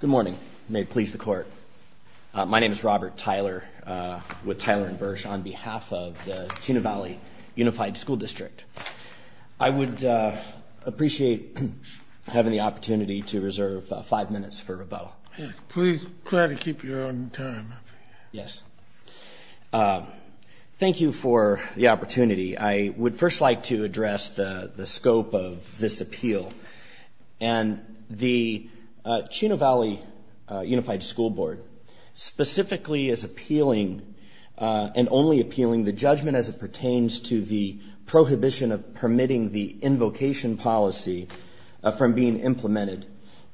Good morning. May it please the Court. My name is Robert Tyler with Tyler & Birch on behalf of the Chino Valley Unified School District. I would appreciate having the opportunity to reserve five minutes for rebuttal. Please try to keep your own time. Yes. Thank you for the opportunity. I would first like to address the scope of this appeal and the Chino Valley Unified School Board specifically is appealing and only appealing the judgment as it pertains to the prohibition of permitting the invocation policy from being implemented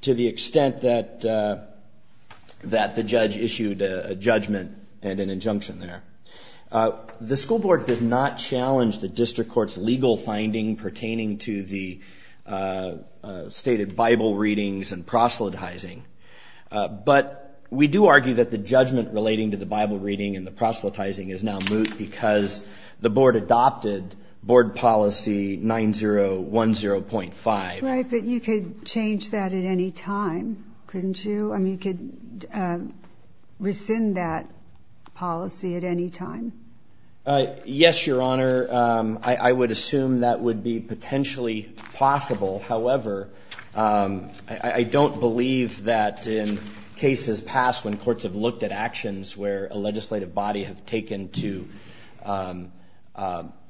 to the extent that the judge issued a judgment and an injunction there. The school board does not challenge the district court's legal finding pertaining to the stated Bible readings and proselytizing. But we do argue that the judgment relating to the Bible reading and the proselytizing is now moot because the board adopted board policy 9010.5. Right, but you could change that at any time, couldn't you? I mean, you could rescind that policy at any time. Yes, Your Honor. I would assume that would be potentially possible. However, I don't believe that in cases past when courts have looked at actions where a legislative body has taken to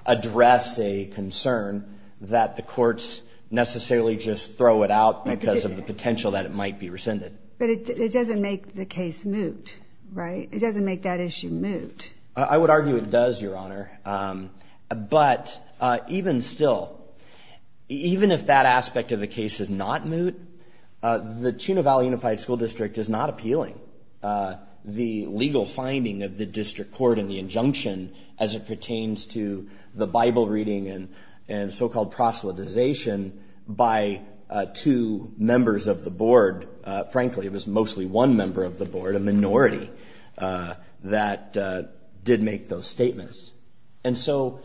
address a concern that the courts necessarily just throw it out because of the potential that it might be rescinded. But it doesn't make the case moot, right? It doesn't make that issue moot. I would argue it does, Your Honor. But even still, even if that aspect of the case is not moot, the Chino Valley Unified School District is not appealing the legal finding of the district court and the injunction as it pertains to the Bible reading and so-called proselytization by two members of the board. Frankly, it was mostly one member of the board, a minority, that did make those statements. And so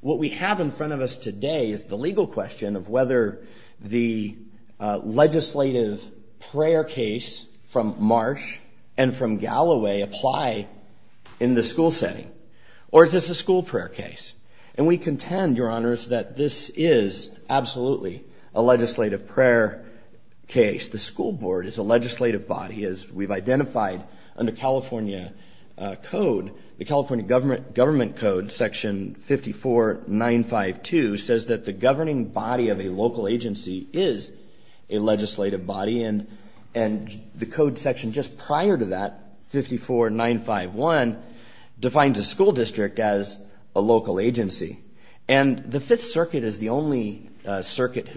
what we have in front of us today is the legal question of whether the legislative prayer case from Marsh and from Galloway apply in the school setting. Or is this a school prayer case? And we contend, Your Honors, that this is absolutely a legislative prayer case. The school board is a legislative body, as we've identified under California code. The California government code, Section 54952, says that the governing body of a local agency is a legislative body. And the code section just prior to that, 54951, defines a school district as a local agency. And the Fifth Circuit is the only circuit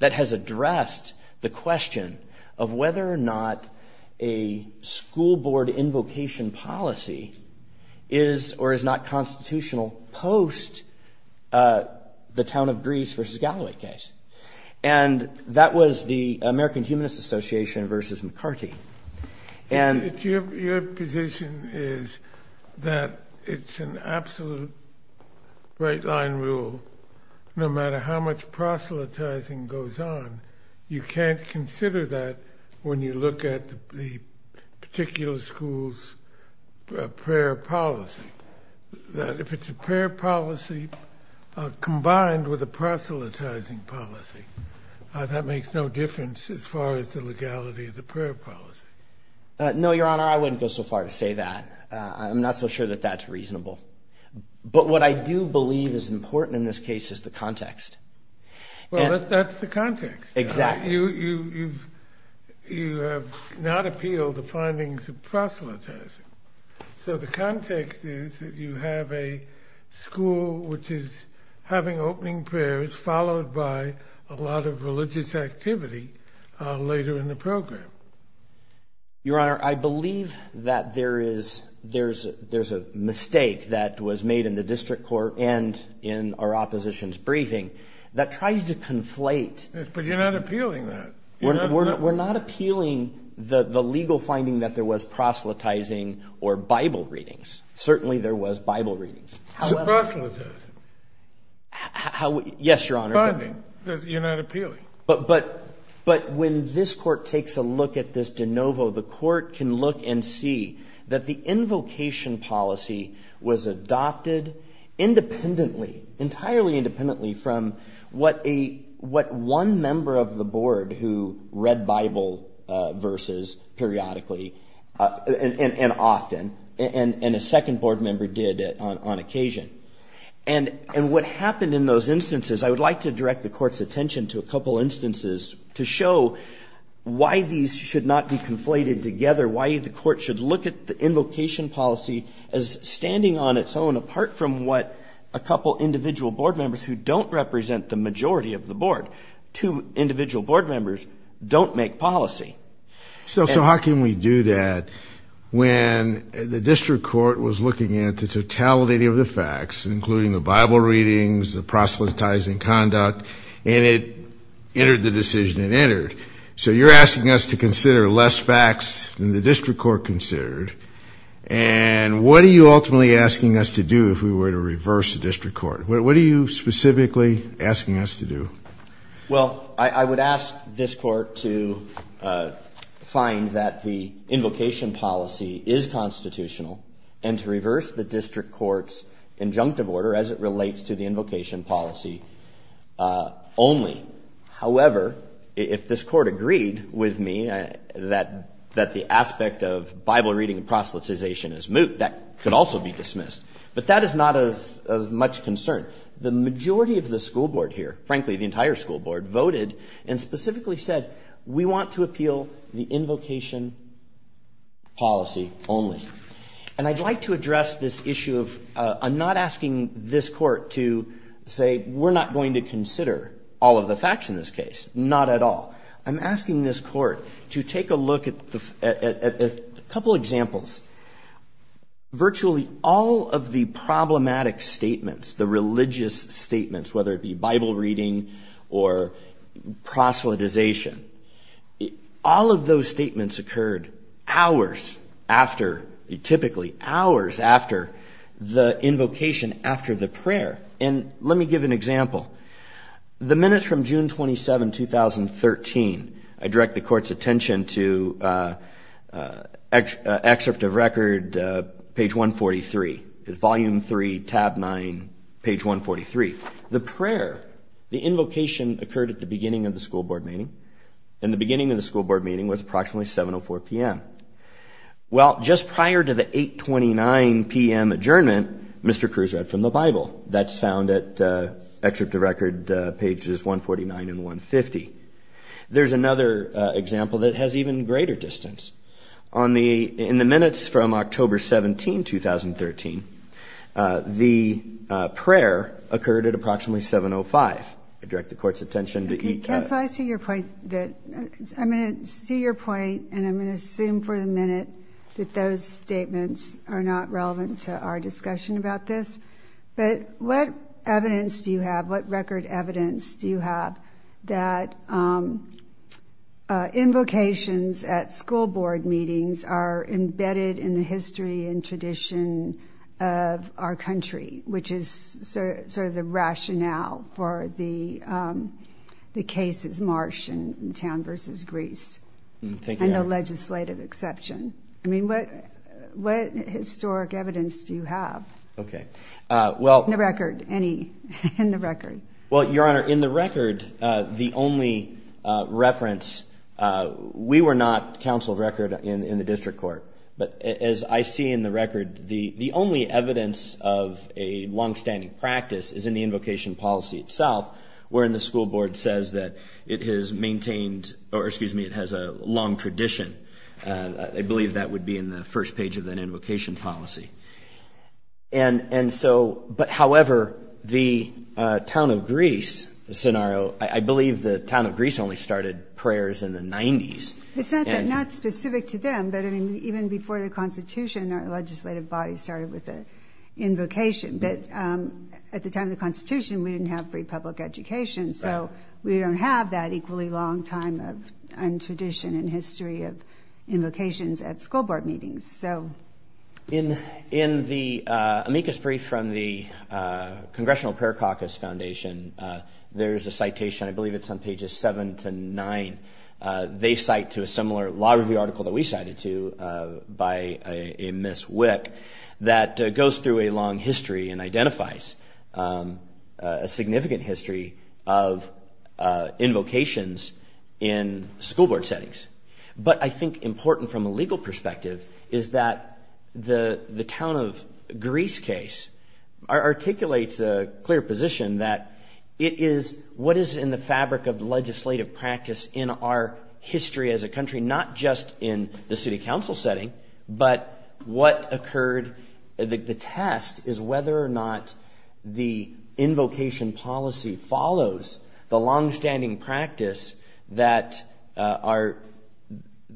that has addressed the question of whether or not a school board invocation policy is or is not constitutional post the town of Greece versus Galloway case. And that was the American Humanist Association versus McCarty. Your position is that it's an absolute right line rule, no matter how much proselytizing goes on. You can't consider that when you look at the particular school's prayer policy. If it's a prayer policy combined with a proselytizing policy, that makes no difference as far as the legality of the prayer policy. No, Your Honor, I wouldn't go so far as to say that. I'm not so sure that that's reasonable. But what I do believe is important in this case is the context. Well, that's the context. Exactly. You have not appealed the findings of proselytizing. So the context is that you have a school which is having opening prayers, followed by a lot of religious activity later in the program. Your Honor, I believe that there is a mistake that was made in the district court and in our opposition's briefing that tries to conflate. But you're not appealing that. We're not appealing the legal finding that there was proselytizing or Bible readings. Certainly there was Bible readings. It's proselytizing. Yes, Your Honor. You're not appealing. But when this court takes a look at this de novo, the court can look and see that the invocation policy was adopted independently, entirely independently, from what one member of the board who read Bible verses periodically and often, and a second board member did on occasion. And what happened in those instances, I would like to direct the court's attention to a couple instances to show why these should not be conflated together, why the court should look at the invocation policy as standing on its own, apart from what a couple individual board members who don't represent the majority of the board, two individual board members, don't make policy. So how can we do that when the district court was looking at the totality of the facts, including the Bible readings, the proselytizing conduct, and it entered the decision it entered? So you're asking us to consider less facts than the district court considered. And what are you ultimately asking us to do if we were to reverse the district court? What are you specifically asking us to do? Well, I would ask this court to find that the invocation policy is constitutional and to reverse the district court's injunctive order as it relates to the invocation policy only. However, if this court agreed with me that the aspect of Bible reading and proselytization is moot, that could also be dismissed. But that is not as much concern. The majority of the school board here, frankly, the entire school board, voted and specifically said we want to appeal the invocation policy only. And I'd like to address this issue of I'm not asking this court to say we're not going to consider all of the facts in this case. Not at all. I'm asking this court to take a look at a couple examples. Virtually all of the problematic statements, the religious statements, whether it be Bible reading or proselytization, all of those statements occurred hours after, typically hours after, the invocation after the prayer. And let me give an example. The minutes from June 27, 2013, I direct the court's attention to excerpt of record page 143. It's volume three, tab nine, page 143. The prayer, the invocation occurred at the beginning of the school board meeting. And the beginning of the school board meeting was approximately 7.04 p.m. Well, just prior to the 8.29 p.m. adjournment, Mr. Crews read from the Bible. That's found at excerpt of record pages 149 and 150. There's another example that has even greater distance. In the minutes from October 17, 2013, the prayer occurred at approximately 7.05. Counsel, I see your point. I'm going to see your point, and I'm going to assume for the minute that those statements are not relevant to our discussion about this. But what evidence do you have, what record evidence do you have that invocations at school board meetings are embedded in the history and tradition of our country, which is sort of the rationale for the cases March in town versus Greece and the legislative exception? I mean, what historic evidence do you have? Okay. In the record, any in the record. Well, Your Honor, in the record, the only reference, we were not counsel record in the district court. But as I see in the record, the only evidence of a longstanding practice is in the invocation policy itself, wherein the school board says that it has maintained or, excuse me, it has a long tradition. I believe that would be in the first page of that invocation policy. And so but, however, the town of Greece scenario, I believe the town of Greece only started prayers in the 90s. It's not that not specific to them, but I mean, even before the Constitution, our legislative body started with an invocation. But at the time of the Constitution, we didn't have free public education. So we don't have that equally long time of tradition and history of invocations at school board meetings. So in in the amicus brief from the Congressional Prayer Caucus Foundation, there is a citation. I believe it's on pages seven to nine. They cite to a similar law review article that we cited to by a Ms. Wick that goes through a long history and identifies a significant history of invocations in school board settings. But I think important from a legal perspective is that the town of Greece case articulates a clear position that it is what is in the fabric of legislative practice in our history as a country, not just in the city council setting, but what occurred. The test is whether or not the invocation policy follows the longstanding practice that are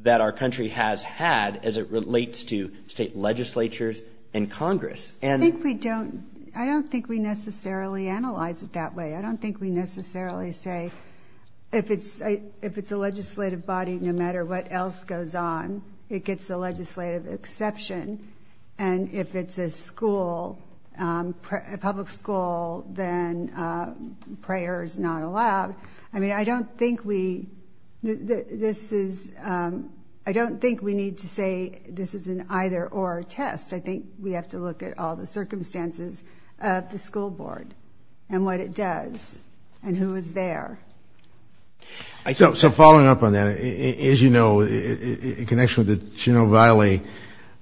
that our country has had as it relates to state legislatures and Congress. And I think we don't I don't think we necessarily analyze it that way. I don't think we necessarily say if it's if it's a legislative body, no matter what else goes on, it gets a legislative exception. And if it's a school, a public school, then prayer is not allowed. I mean, I don't think we this is I don't think we need to say this is an either or test. I think we have to look at all the circumstances of the school board and what it does and who is there. So following up on that, as you know, in connection with the Chino Valley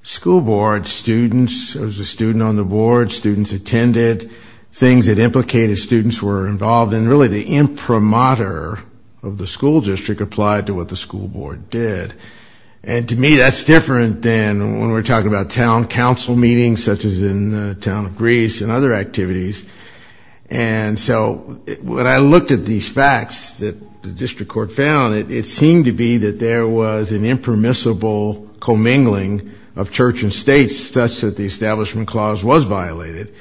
School Board, students, there was a student on the board, students attended, things that implicated students were involved. And really the imprimatur of the school district applied to what the school board did. And to me, that's different than when we're talking about town council meetings, such as in the town of Greece and other activities. And so when I looked at these facts that the district court found, it seemed to be that there was an impermissible commingling of church and states such that the establishment clause was violated.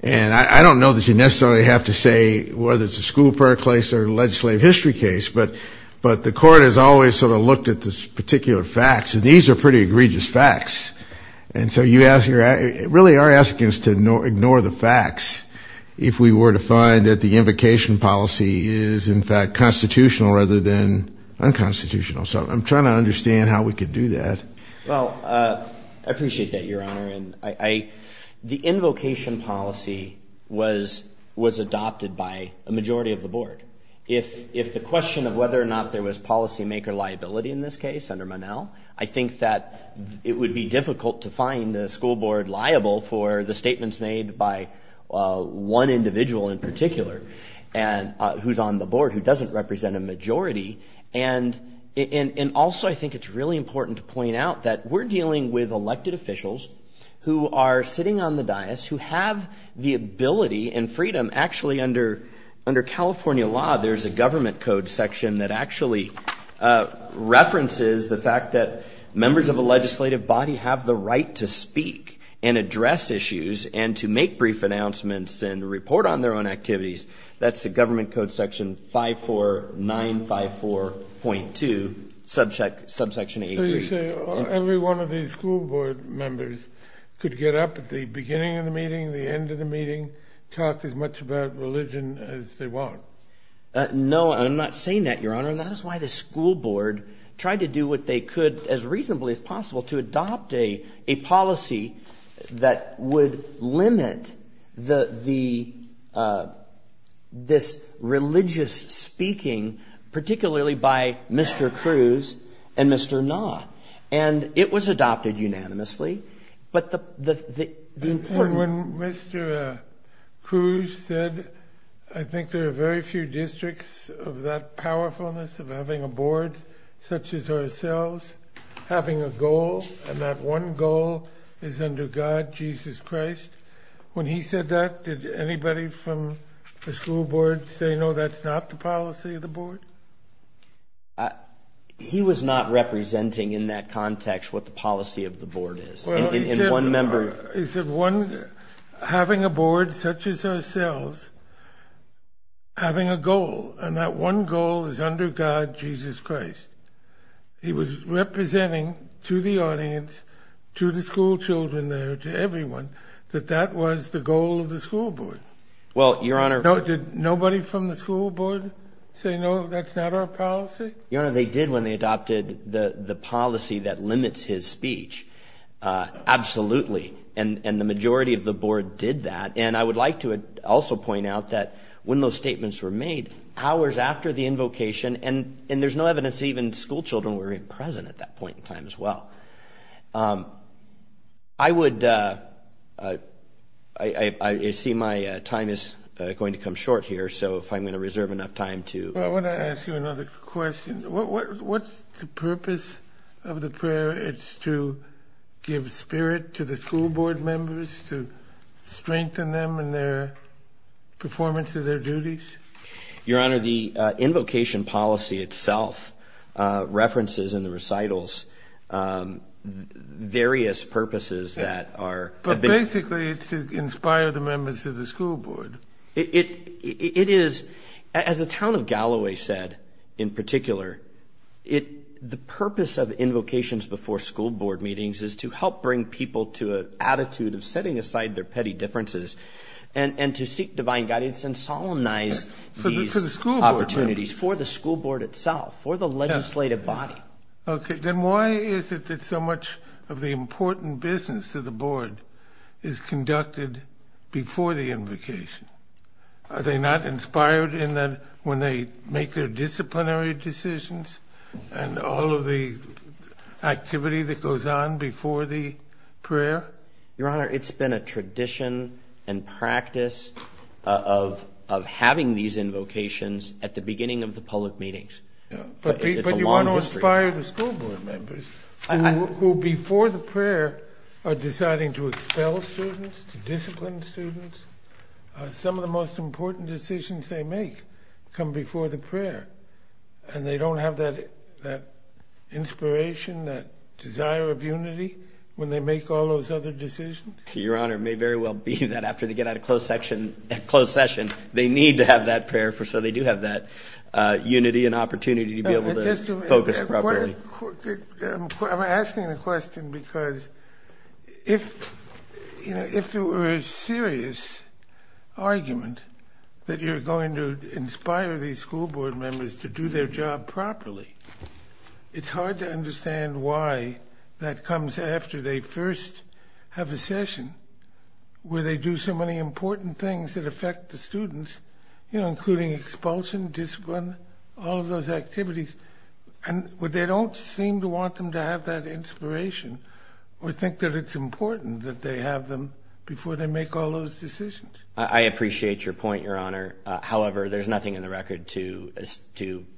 And I don't know that you necessarily have to say whether it's a school prayer place or legislative history case. But but the court has always sort of looked at this particular facts. And these are pretty egregious facts. And so you ask your really are asking us to ignore the facts. If we were to find that the invocation policy is, in fact, constitutional rather than unconstitutional. So I'm trying to understand how we could do that. Well, I appreciate that, Your Honor. And I the invocation policy was was adopted by a majority of the board. If if the question of whether or not there was policymaker liability in this case under Manel, I think that it would be difficult to find the school board liable for the statements made by one individual in particular. And who's on the board who doesn't represent a majority. And and also, I think it's really important to point out that we're dealing with elected officials who are sitting on the dais, who have the ability and freedom. Actually, under under California law, there's a government code section that actually references the fact that members of a legislative body have the right to speak and address issues and to make brief announcements and report on their own activities. That's the government code section five four nine five four point two subject subsection. Every one of these school board members could get up at the beginning of the meeting, the end of the meeting, talk as much about religion as they want. No, I'm not saying that, Your Honor. And that is why the school board tried to do what they could as reasonably as possible to adopt a policy that would limit the the this religious speaking, particularly by Mr. Cruz and Mr. Nah. And it was adopted unanimously. But the important one, Mr. Cruz said, I think there are very few districts of that powerfulness of having a board such as ourselves having a goal. And that one goal is under God, Jesus Christ. When he said that, did anybody from the school board say, no, that's not the policy of the board? He was not representing in that context what the policy of the board is in one member. Is it one having a board such as ourselves having a goal? And that one goal is under God, Jesus Christ. He was representing to the audience, to the school children there, to everyone, that that was the goal of the school board. Well, Your Honor. Did nobody from the school board say, no, that's not our policy? Your Honor, they did when they adopted the policy that limits his speech. Absolutely. And the majority of the board did that. And I would like to also point out that when those statements were made hours after the invocation, and there's no evidence even school children were even present at that point in time as well. I would, I see my time is going to come short here. So if I'm going to reserve enough time to. Well, I want to ask you another question. What's the purpose of the prayer? It's to give spirit to the school board members, to strengthen them in their performance of their duties? Your Honor, the invocation policy itself references in the recitals various purposes that are. But basically it's to inspire the members of the school board. It is, as the town of Galloway said, in particular, the purpose of invocations before school board meetings is to help bring people to an attitude of setting aside their petty differences and to seek divine guidance and solemnize these opportunities for the school board itself, for the legislative body. OK, then why is it that so much of the important business of the board is conducted before the invocation? Are they not inspired in that when they make their disciplinary decisions and all of the activity that goes on before the prayer? Your Honor, it's been a tradition and practice of of having these invocations at the beginning of the public meetings. But you want to inspire the school board members who, before the prayer, are deciding to expel students, to discipline students. Some of the most important decisions they make come before the prayer, and they don't have that inspiration, that desire of unity when they make all those other decisions? Your Honor, it may very well be that after they get out of closed session, they need to have that prayer so they do have that unity and opportunity to be able to focus properly. I'm asking the question because if there were a serious argument that you're going to inspire these school board members to do their job properly, it's hard to understand why that comes after they first have a session where they do so many important things that affect the students, including expulsion, discipline, all of those activities. And they don't seem to want them to have that inspiration or think that it's important that they have them before they make all those decisions. I appreciate your point, Your Honor. However, there's nothing in the record to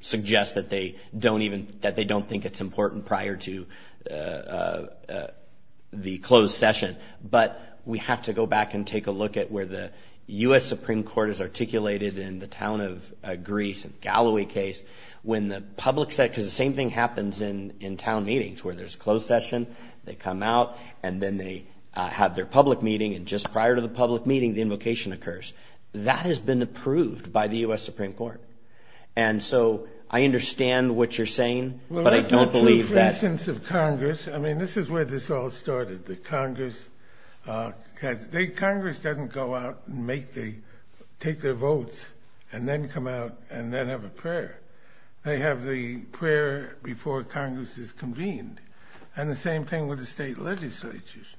suggest that they don't think it's important prior to the closed session. But we have to go back and take a look at where the U.S. Supreme Court has articulated in the town of Greece, in the Galloway case, when the public said, because the same thing happens in town meetings where there's closed session, they come out, and then they have their public meeting, and just prior to the public meeting, the invocation occurs. That has been approved by the U.S. Supreme Court. And so I understand what you're saying, but I don't believe that… Congress doesn't go out and take their votes and then come out and then have a prayer. They have the prayer before Congress is convened. And the same thing with the state legislatures.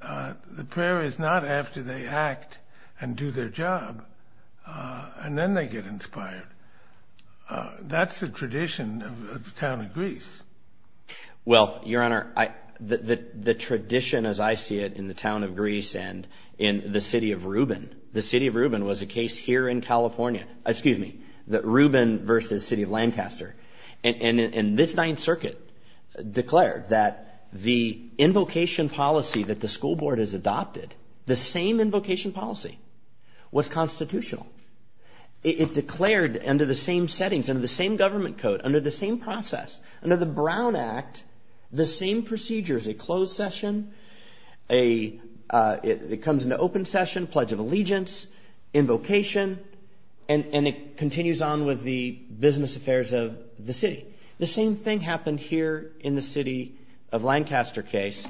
The prayer is not after they act and do their job, and then they get inspired. Well, Your Honor, the tradition as I see it in the town of Greece and in the city of Reuben, the city of Reuben was a case here in California, excuse me, Reuben versus city of Lancaster. And this Ninth Circuit declared that the invocation policy that the school board has adopted, the same invocation policy, was constitutional. It declared under the same settings, under the same government code, under the same process, under the Brown Act, the same procedures, a closed session, it comes into open session, pledge of allegiance, invocation, and it continues on with the business affairs of the city. The same thing happened here in the city of Lancaster case,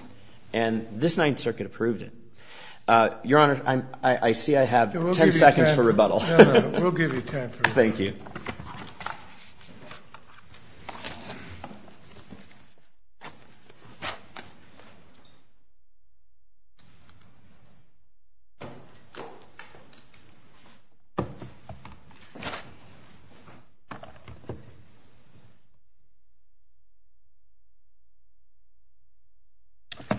and this Ninth Circuit approved it. Your Honor, I see I have ten seconds for rebuttal. We'll give you time for rebuttal. Thank you.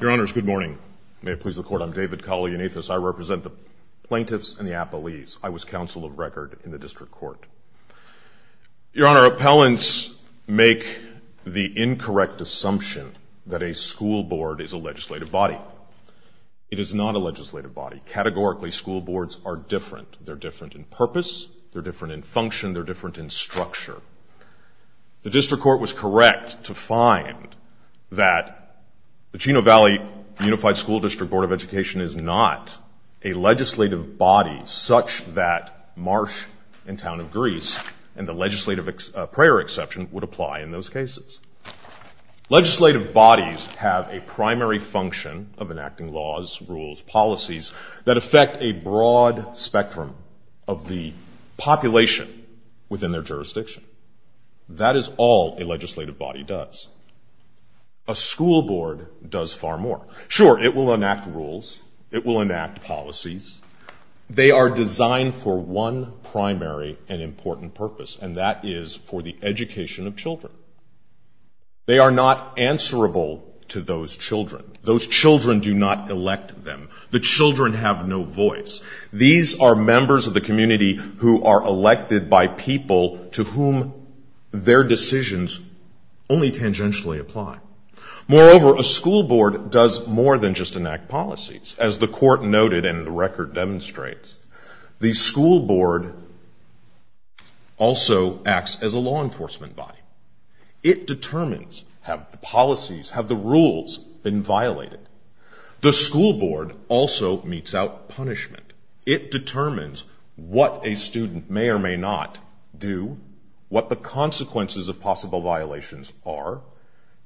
Your Honors, good morning. May it please the Court, I'm David Colley, an atheist. I represent the plaintiffs and the appellees. I was counsel of record in the district court. Your Honor, appellants make the incorrect assumption that a school board is a legislative body. It is not a legislative body. Categorically, school boards are different. They're different in purpose. They're different in function. They're different in structure. The district court was correct to find that the Chino Valley Unified School District Board of Education is not a legislative body such that Marsh and Town of Greece and the legislative prayer exception would apply in those cases. Legislative bodies have a primary function of enacting laws, rules, policies, that affect a broad spectrum of the population within their jurisdiction. That is all a legislative body does. A school board does far more. Sure, it will enact rules. It will enact policies. They are designed for one primary and important purpose, and that is for the education of children. They are not answerable to those children. Those children do not elect them. The children have no voice. These are members of the community who are elected by people to whom their decisions only tangentially apply. Moreover, a school board does more than just enact policies. As the court noted and the record demonstrates, the school board also acts as a law enforcement body. It determines have the policies, have the rules been violated. The school board also meets out punishment. It determines what a student may or may not do, what the consequences of possible violations are,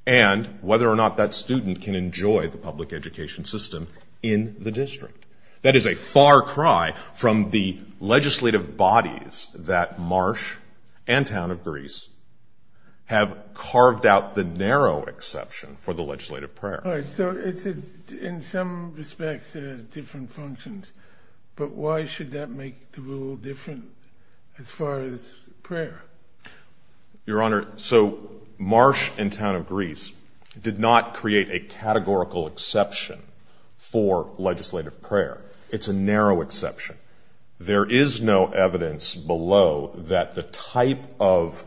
and whether or not that student can enjoy the public education system in the district. That is a far cry from the legislative bodies that Marsh and Town of Greece have carved out the narrow exception for the legislative prayer. All right, so in some respects it has different functions, but why should that make the rule different as far as prayer? Your Honor, so Marsh and Town of Greece did not create a categorical exception for legislative prayer. It's a narrow exception. There is no evidence below that the type of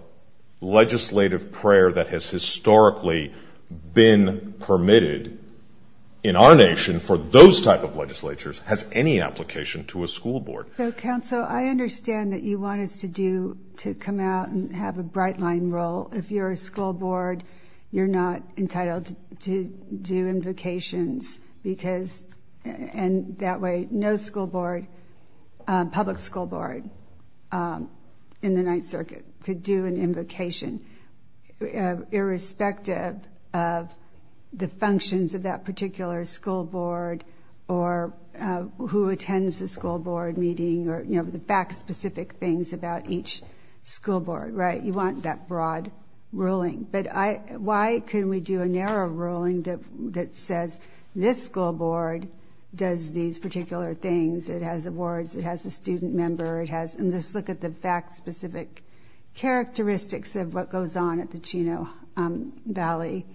legislative prayer that has historically been permitted in our nation for those type of legislatures has any application to a school board. So, counsel, I understand that you want us to do, to come out and have a bright line role. If you're a school board, you're not entitled to do invocations because, and that way no school board, public school board in the Ninth Circuit could do an invocation irrespective of the functions of that particular school board or who attends the school board meeting or the fact-specific things about each school board, right? You want that broad ruling. But why couldn't we do a narrow ruling that says this school board does these particular things. It has awards. It has a student member. And just look at the fact-specific characteristics of what goes on at the Chino Valley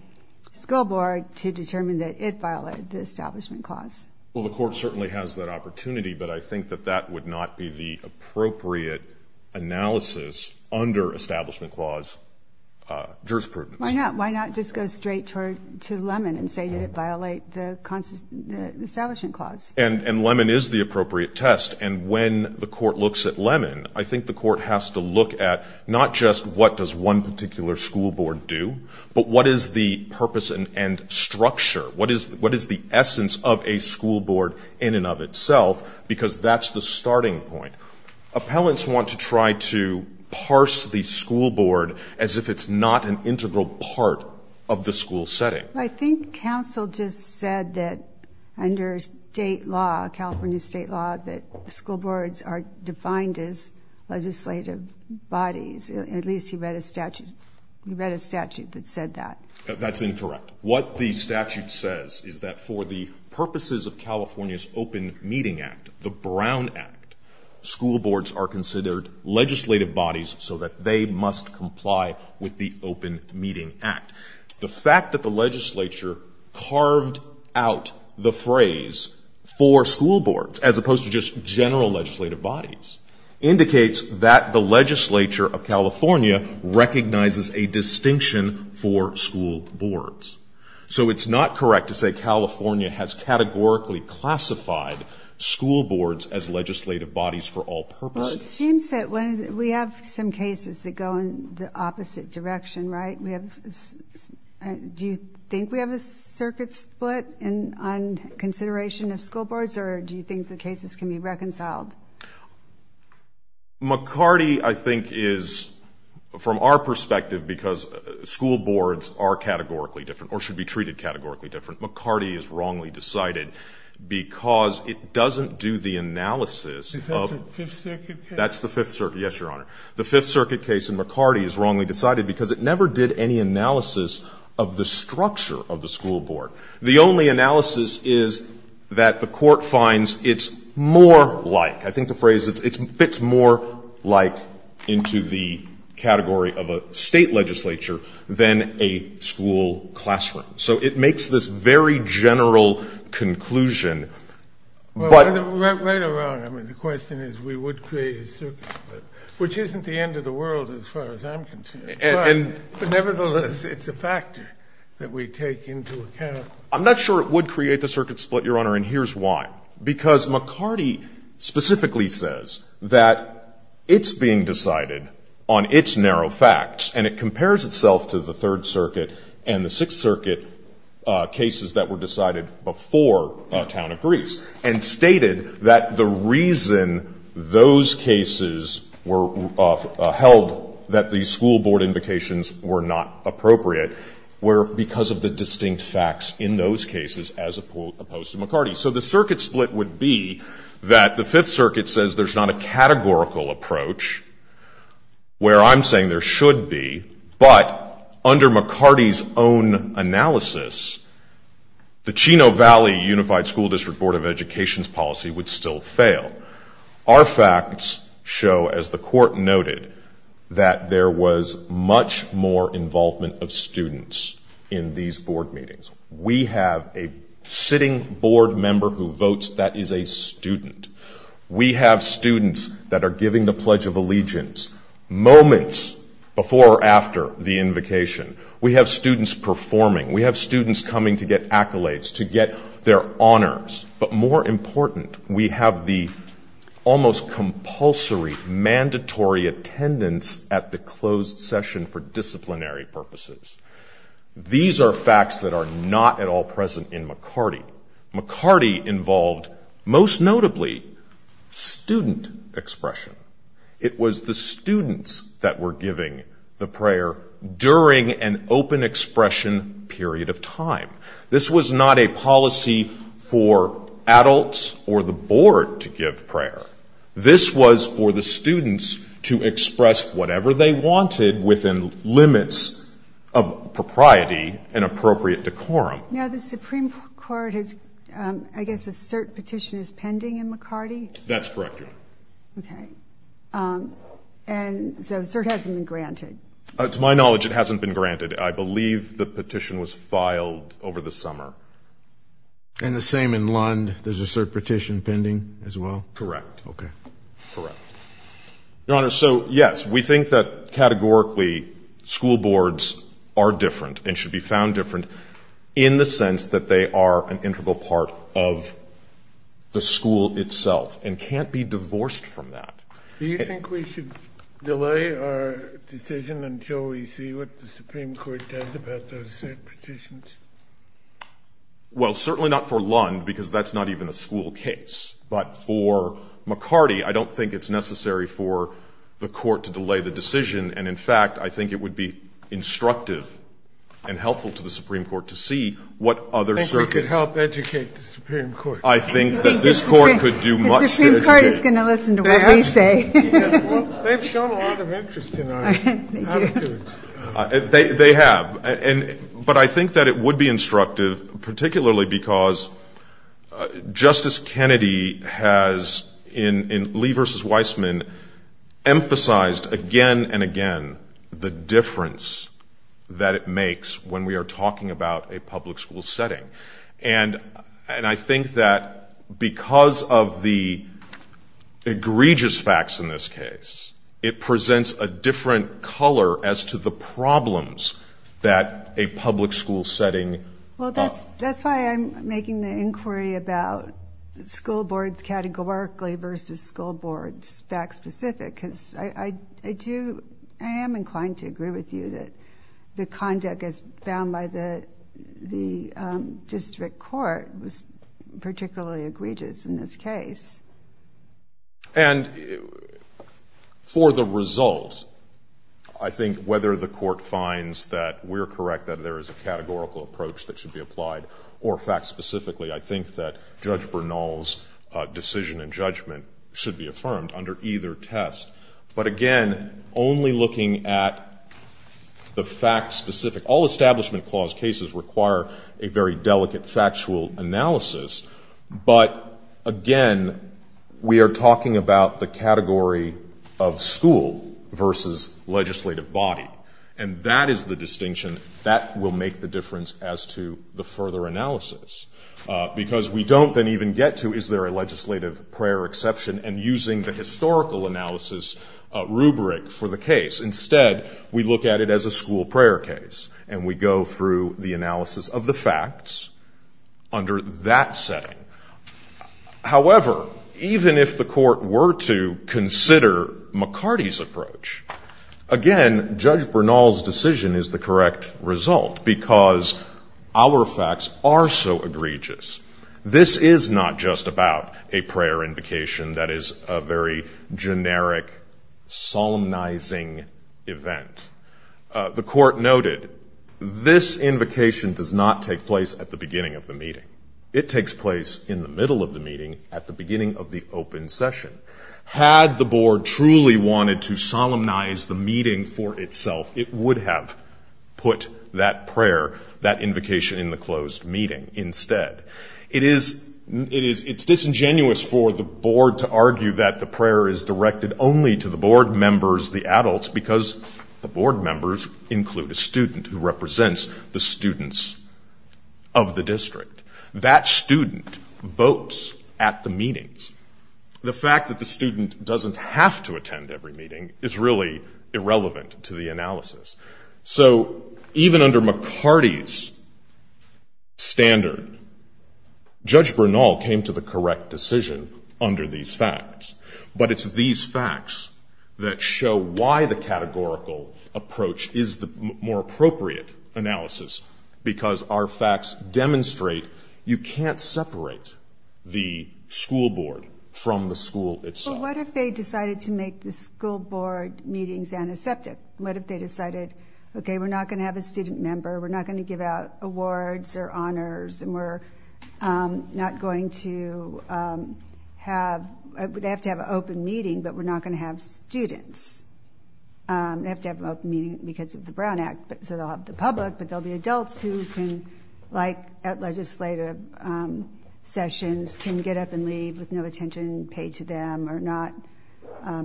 School Board to determine that it violated the Establishment Clause. Well, the Court certainly has that opportunity, but I think that that would not be the appropriate analysis under Establishment Clause jurisprudence. Why not? Why not just go straight to Lemon and say did it violate the Establishment Clause? And Lemon is the appropriate test. And when the Court looks at Lemon, I think the Court has to look at not just what does one particular school board do, but what is the purpose and structure, what is the essence of a school board in and of itself because that's the starting point. Appellants want to try to parse the school board as if it's not an integral part of the school setting. I think counsel just said that under state law, California state law, that school boards are defined as legislative bodies. At least he read a statute that said that. That's incorrect. What the statute says is that for the purposes of California's Open Meeting Act, the Brown Act, school boards are considered legislative bodies so that they must comply with the Open Meeting Act. The fact that the legislature carved out the phrase for school boards as opposed to just general legislative bodies indicates that the legislature of California recognizes a distinction for school boards. So it's not correct to say California has categorically classified school boards as legislative bodies for all purposes. It seems that we have some cases that go in the opposite direction, right? Do you think we have a circuit split on consideration of school boards or do you think the cases can be reconciled? McCarty, I think, is from our perspective because school boards are categorically different or should be treated categorically different. McCarty is wrongly decided because it doesn't do the analysis of the fifth circuit case. Yes, Your Honor. Because it never did any analysis of the structure of the school board. The only analysis is that the court finds it's more like. I think the phrase is it fits more like into the category of a state legislature than a school classroom. So it makes this very general conclusion. Well, right around. I mean, the question is we would create a circuit split, which isn't the end of the world as far as I'm concerned. But nevertheless, it's a factor that we take into account. I'm not sure it would create the circuit split, Your Honor, and here's why. Because McCarty specifically says that it's being decided on its narrow facts and it compares itself to the third circuit and the sixth circuit cases that were decided before Town of Greece and stated that the reason those cases were held that the school board invocations were not appropriate were because of the distinct facts in those cases as opposed to McCarty. So the circuit split would be that the fifth circuit says there's not a categorical approach, where I'm saying there should be, but under McCarty's own analysis, the Chino Valley Unified School District Board of Education's policy would still fail. Our facts show, as the court noted, that there was much more involvement of students in these board meetings. We have a sitting board member who votes that is a student. We have students that are giving the Pledge of Allegiance moments before or after the invocation. We have students performing. We have students coming to get accolades, to get their honors. But more important, we have the almost compulsory, mandatory attendance at the closed session for disciplinary purposes. These are facts that are not at all present in McCarty. McCarty involved, most notably, student expression. It was the students that were giving the prayer during an open expression period of time. This was not a policy for adults or the board to give prayer. This was for the students to express whatever they wanted within limits of propriety and appropriate decorum. Now, the Supreme Court has, I guess a cert petition is pending in McCarty? That's correct, Your Honor. Okay. And so a cert hasn't been granted? To my knowledge, it hasn't been granted. I believe the petition was filed over the summer. And the same in Lund? There's a cert petition pending as well? Correct. Okay. Correct. Your Honor, so, yes, we think that categorically school boards are different and should be found different in the sense that they are an integral part of the school itself and can't be divorced from that. Do you think we should delay our decision until we see what the Supreme Court does about those cert petitions? Well, certainly not for Lund, because that's not even a school case. But for McCarty, I don't think it's necessary for the court to delay the decision. And, in fact, I think it would be instructive and helpful to the Supreme Court to see what other cert is. I think we could help educate the Supreme Court. I think that this Court could do much to educate. The Supreme Court is going to listen to what we say. They've shown a lot of interest in our attitudes. They have. But I think that it would be instructive, particularly because Justice Kennedy has, in Lee v. Weissman, emphasized again and again the difference that it makes when we are talking about a public school setting. And I think that because of the egregious facts in this case, it presents a different color as to the problems that a public school setting. Well, that's why I'm making the inquiry about school boards categorically versus school boards fact-specific, because I am inclined to agree with you that the conduct as found by the district court was particularly egregious in this case. And for the result, I think whether the Court finds that we're correct, that there is a categorical approach that should be applied, or fact-specifically, I think that Judge Bernal's decision and judgment should be affirmed under either test. But, again, only looking at the fact-specific. All Establishment Clause cases require a very delicate factual analysis. But, again, we are talking about the category of school versus legislative body. And that is the distinction that will make the difference as to the further analysis, because we don't then even get to, is there a legislative prayer exception, and using the historical analysis rubric for the case. Instead, we look at it as a school prayer case, and we go through the analysis of the facts under that setting. However, even if the Court were to consider McCarty's approach, again, Judge Bernal's decision is the correct result, because our facts are so egregious. This is not just about a prayer invocation that is a very generic, solemnizing event. The Court noted, this invocation does not take place at the beginning of the meeting. It takes place in the middle of the meeting, at the beginning of the open session. Had the Board truly wanted to solemnize the meeting for itself, it would have put that prayer, that invocation, in the closed meeting instead. It is disingenuous for the Board to argue that the prayer is directed only to the Board members, the adults, because the Board members include a student who represents the students of the district. That student votes at the meetings. The fact that the student doesn't have to attend every meeting is really irrelevant to the analysis. So, even under McCarty's standard, Judge Bernal came to the correct decision under these facts, but it's these facts that show why the categorical approach is the more appropriate analysis, because our facts demonstrate you can't separate the school board from the school itself. But what if they decided to make the school board meetings antiseptic? What if they decided, okay, we're not going to have a student member, we're not going to give out awards or honors, and we're not going to have, they have to have an open meeting, but we're not going to have students. They have to have an open meeting because of the Brown Act, so they'll have the public, but there'll be adults who can, like at legislative sessions, can get up and leave with no attention paid to them, or not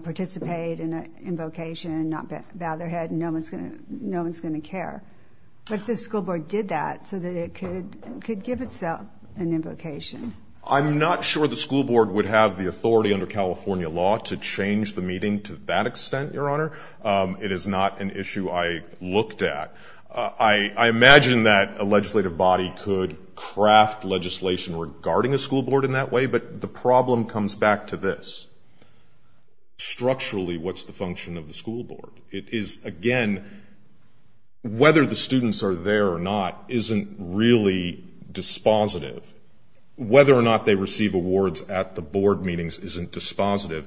participate in an invocation, not bow their head, and no one's going to care. But the school board did that so that it could give itself an invocation. I'm not sure the school board would have the authority under California law to change the meeting to that extent, Your Honor. It is not an issue I looked at. I imagine that a legislative body could craft legislation regarding a school board in that way, but the problem comes back to this. Structurally, what's the function of the school board? It is, again, whether the students are there or not isn't really dispositive. Whether or not they receive awards at the board meetings isn't dispositive.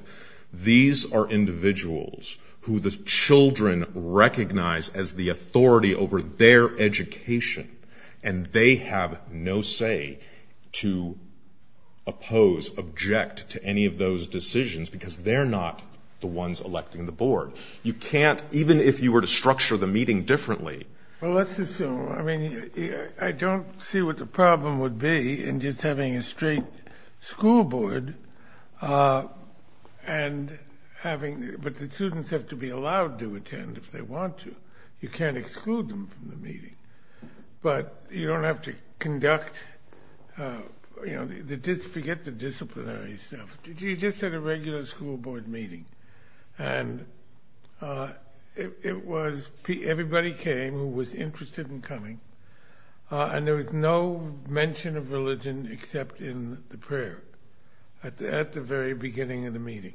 These are individuals who the children recognize as the authority over their education, and they have no say to oppose, object to any of those decisions, because they're not the ones electing the board. You can't, even if you were to structure the meeting differently. Well, let's assume. I mean, I don't see what the problem would be in just having a straight school board, but the students have to be allowed to attend if they want to. You can't exclude them from the meeting. But you don't have to conduct, you know, forget the disciplinary stuff. You just had a regular school board meeting, and it was everybody came who was interested in coming, and there was no mention of religion except in the prayer at the very beginning of the meeting.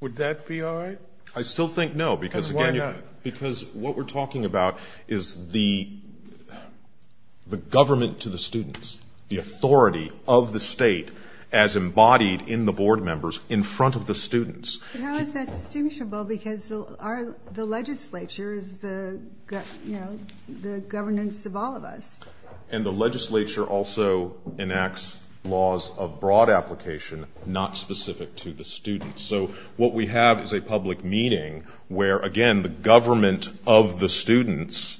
Would that be all right? I still think no, because, again, what we're talking about is the government to the students, the authority of the state as embodied in the board members in front of the students. How is that distinguishable? Because the legislature is the governance of all of us. And the legislature also enacts laws of broad application not specific to the students. So what we have is a public meeting where, again, the government of the students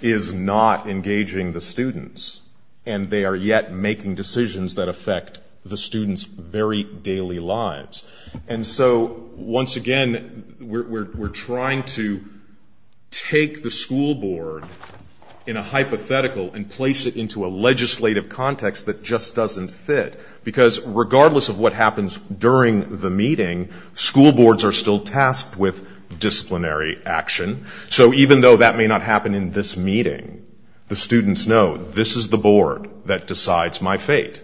is not engaging the students, and they are yet making decisions that affect the students' very daily lives. And so, once again, we're trying to take the school board in a hypothetical and place it into a legislative context that just doesn't fit, because regardless of what happens during the meeting, school boards are still tasked with disciplinary action. So even though that may not happen in this meeting, the students know this is the board that decides my fate.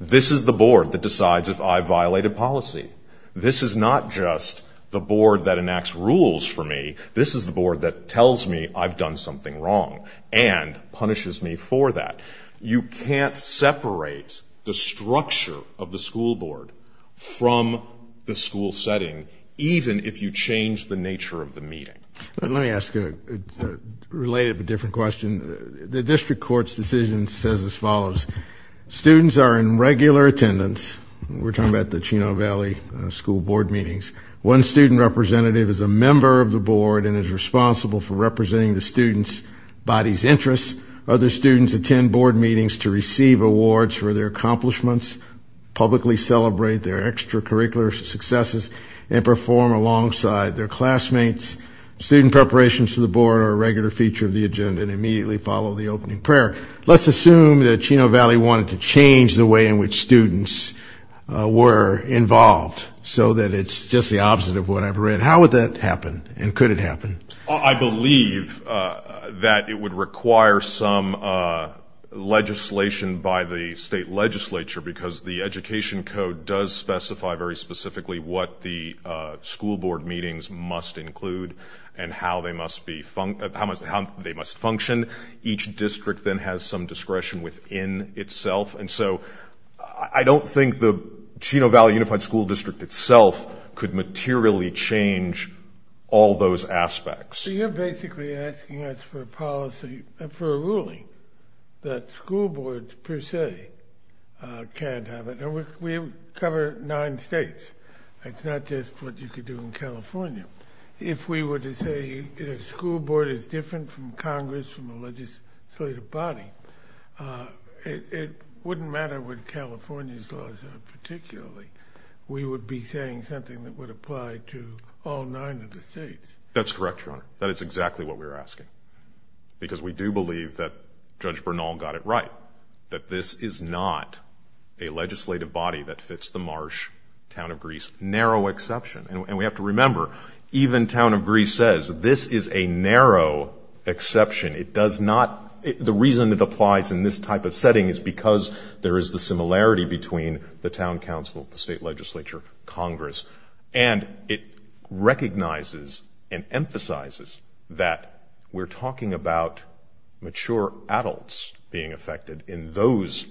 This is the board that decides if I violated policy. This is not just the board that enacts rules for me. This is the board that tells me I've done something wrong and punishes me for that. You can't separate the structure of the school board from the school setting, even if you change the nature of the meeting. Let me ask a related but different question. The district court's decision says as follows. Students are in regular attendance. We're talking about the Chino Valley School Board meetings. One student representative is a member of the board and is responsible for representing the student's body's interests. Other students attend board meetings to receive awards for their accomplishments, publicly celebrate their extracurricular successes, and perform alongside their classmates. Student preparations to the board are a regular feature of the agenda and immediately follow the opening prayer. Let's assume that Chino Valley wanted to change the way in which students were involved so that it's just the opposite of what I've read. How would that happen and could it happen? I believe that it would require some legislation by the state legislature because the education code does specify very specifically what the school board meetings must include and how they must function. Each district then has some discretion within itself. And so I don't think the Chino Valley Unified School District itself could materially change all those aspects. So you're basically asking us for a policy, for a ruling, that school boards per se can't have it. And we cover nine states. It's not just what you could do in California. If we were to say a school board is different from Congress, from a legislative body, it wouldn't matter what California's laws are particularly. We would be saying something that would apply to all nine of the states. That's correct, Your Honor. That is exactly what we're asking. Because we do believe that Judge Bernal got it right, that this is not a legislative body that fits the Marsh Town of Greece, narrow exception. And we have to remember, even Town of Greece says this is a narrow exception. It does not – the reason it applies in this type of setting is because there is the similarity between the town council, the state legislature, Congress. And it recognizes and emphasizes that we're talking about mature adults being affected in those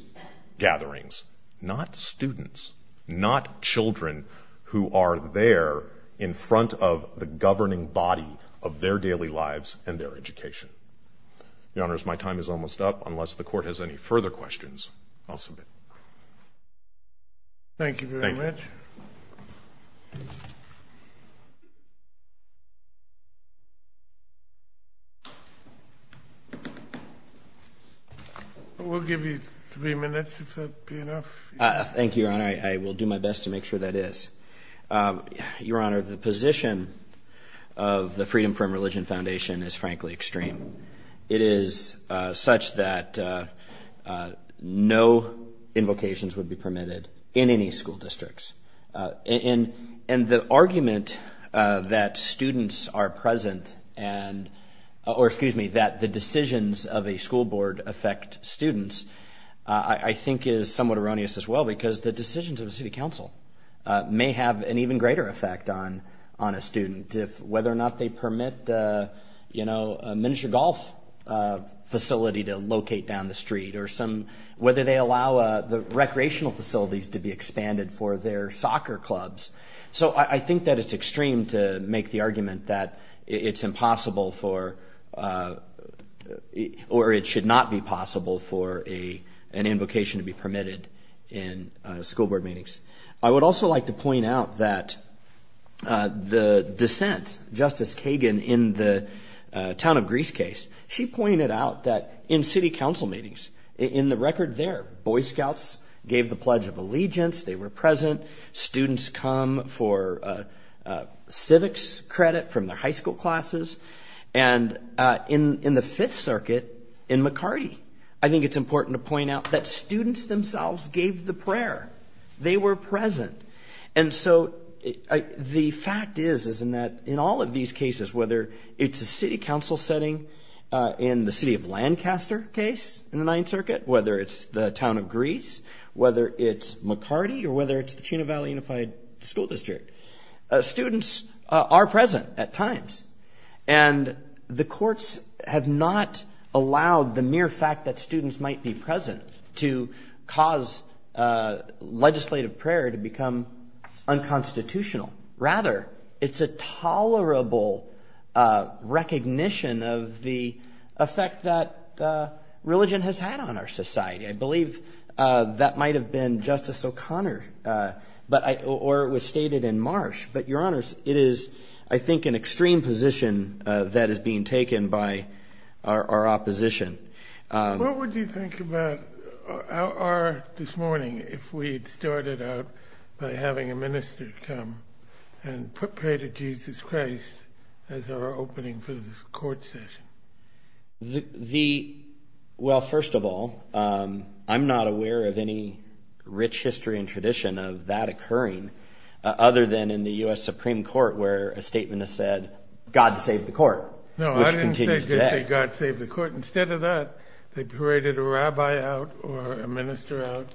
gatherings, not students, not children who are there in front of the governing body of their daily lives and their education. Your Honors, my time is almost up. Unless the Court has any further questions, I'll submit. Thank you very much. We'll give you three minutes if that would be enough. Thank you, Your Honor. I will do my best to make sure that is. Your Honor, the position of the Freedom from Religion Foundation is frankly extreme. It is such that no invocations would be permitted in any school districts. And the argument that students are present and – or, excuse me, that the decisions of a school board affect students I think is somewhat erroneous as well because the decisions of the city council may have an even greater effect on a student if – whether or not they permit, you know, a miniature golf facility to locate down the street or some – whether they allow the recreational facilities to be expanded for their soccer clubs. So I think that it's extreme to make the argument that it's impossible for – or it should not be possible for an invocation to be permitted in school board meetings. I would also like to point out that the dissent, Justice Kagan, in the town of Greasecase, she pointed out that in city council meetings, in the record there, Boy Scouts gave the Pledge of Allegiance. They were present. Students come for civics credit from their high school classes. And in the Fifth Circuit, in McCarty, I think it's important to point out that students themselves gave the prayer. They were present. And so the fact is is in that in all of these cases, whether it's a city council setting in the city of Lancaster case in the Ninth Circuit, whether it's the town of Grease, whether it's McCarty, or whether it's the Chena Valley Unified School District, students are present at times. And the courts have not allowed the mere fact that students might be present to cause legislative prayer to become unconstitutional. Rather, it's a tolerable recognition of the effect that religion has had on our society. I believe that might have been Justice O'Connor, or it was stated in Marsh. But, Your Honor, it is, I think, an extreme position that is being taken by our opposition. What would you think about our, this morning, if we had started out by having a minister come and pray to Jesus Christ as our opening for this court session? Well, first of all, I'm not aware of any rich history and tradition of that occurring other than in the U.S. Supreme Court where a statement is said, God save the court, which continues today. No, I didn't say God save the court. Instead of that, they paraded a rabbi out or a minister out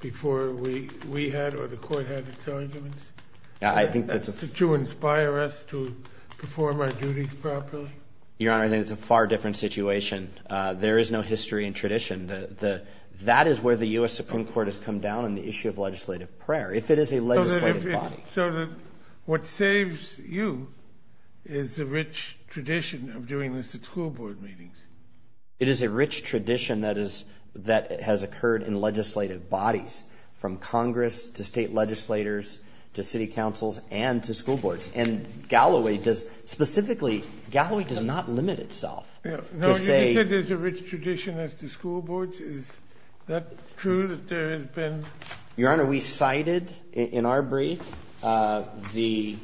before we had or the court had its arguments to inspire us to perform our duties properly. Your Honor, I think it's a far different situation. There is no history and tradition. That is where the U.S. Supreme Court has come down on the issue of legislative prayer. If it is a legislative body. So that what saves you is the rich tradition of doing this at school board meetings. It is a rich tradition that has occurred in legislative bodies, from Congress to state legislators to city councils and to school boards. And Galloway does, specifically, Galloway does not limit itself. No, you said there's a rich tradition as to school boards. Is that true that there has been? Your Honor, we cited in our brief, there's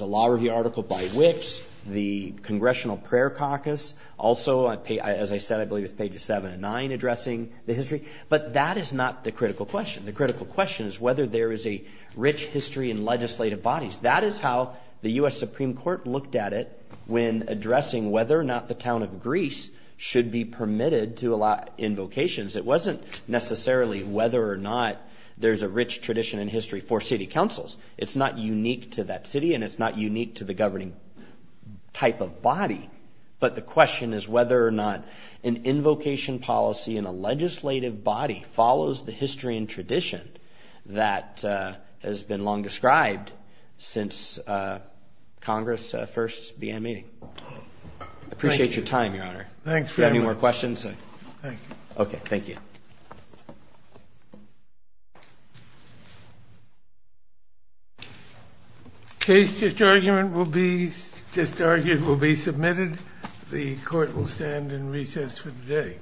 a law review article by Wicks, the Congressional Prayer Caucus. Also, as I said, I believe it's pages 7 and 9 addressing the history. But that is not the critical question. The critical question is whether there is a rich history in legislative bodies. That is how the U.S. Supreme Court looked at it when addressing whether or not the town of Greece should be permitted to allow invocations. It wasn't necessarily whether or not there's a rich tradition in history for city councils. It's not unique to that city and it's not unique to the governing type of body. But the question is whether or not an invocation policy in a legislative body follows the history and tradition that has been long described since Congress first began meeting. I appreciate your time, Your Honor. Do you have any more questions? Thank you. Okay, thank you. The case just argued will be submitted. The court will stand in recess for the day.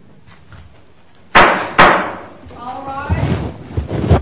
All rise.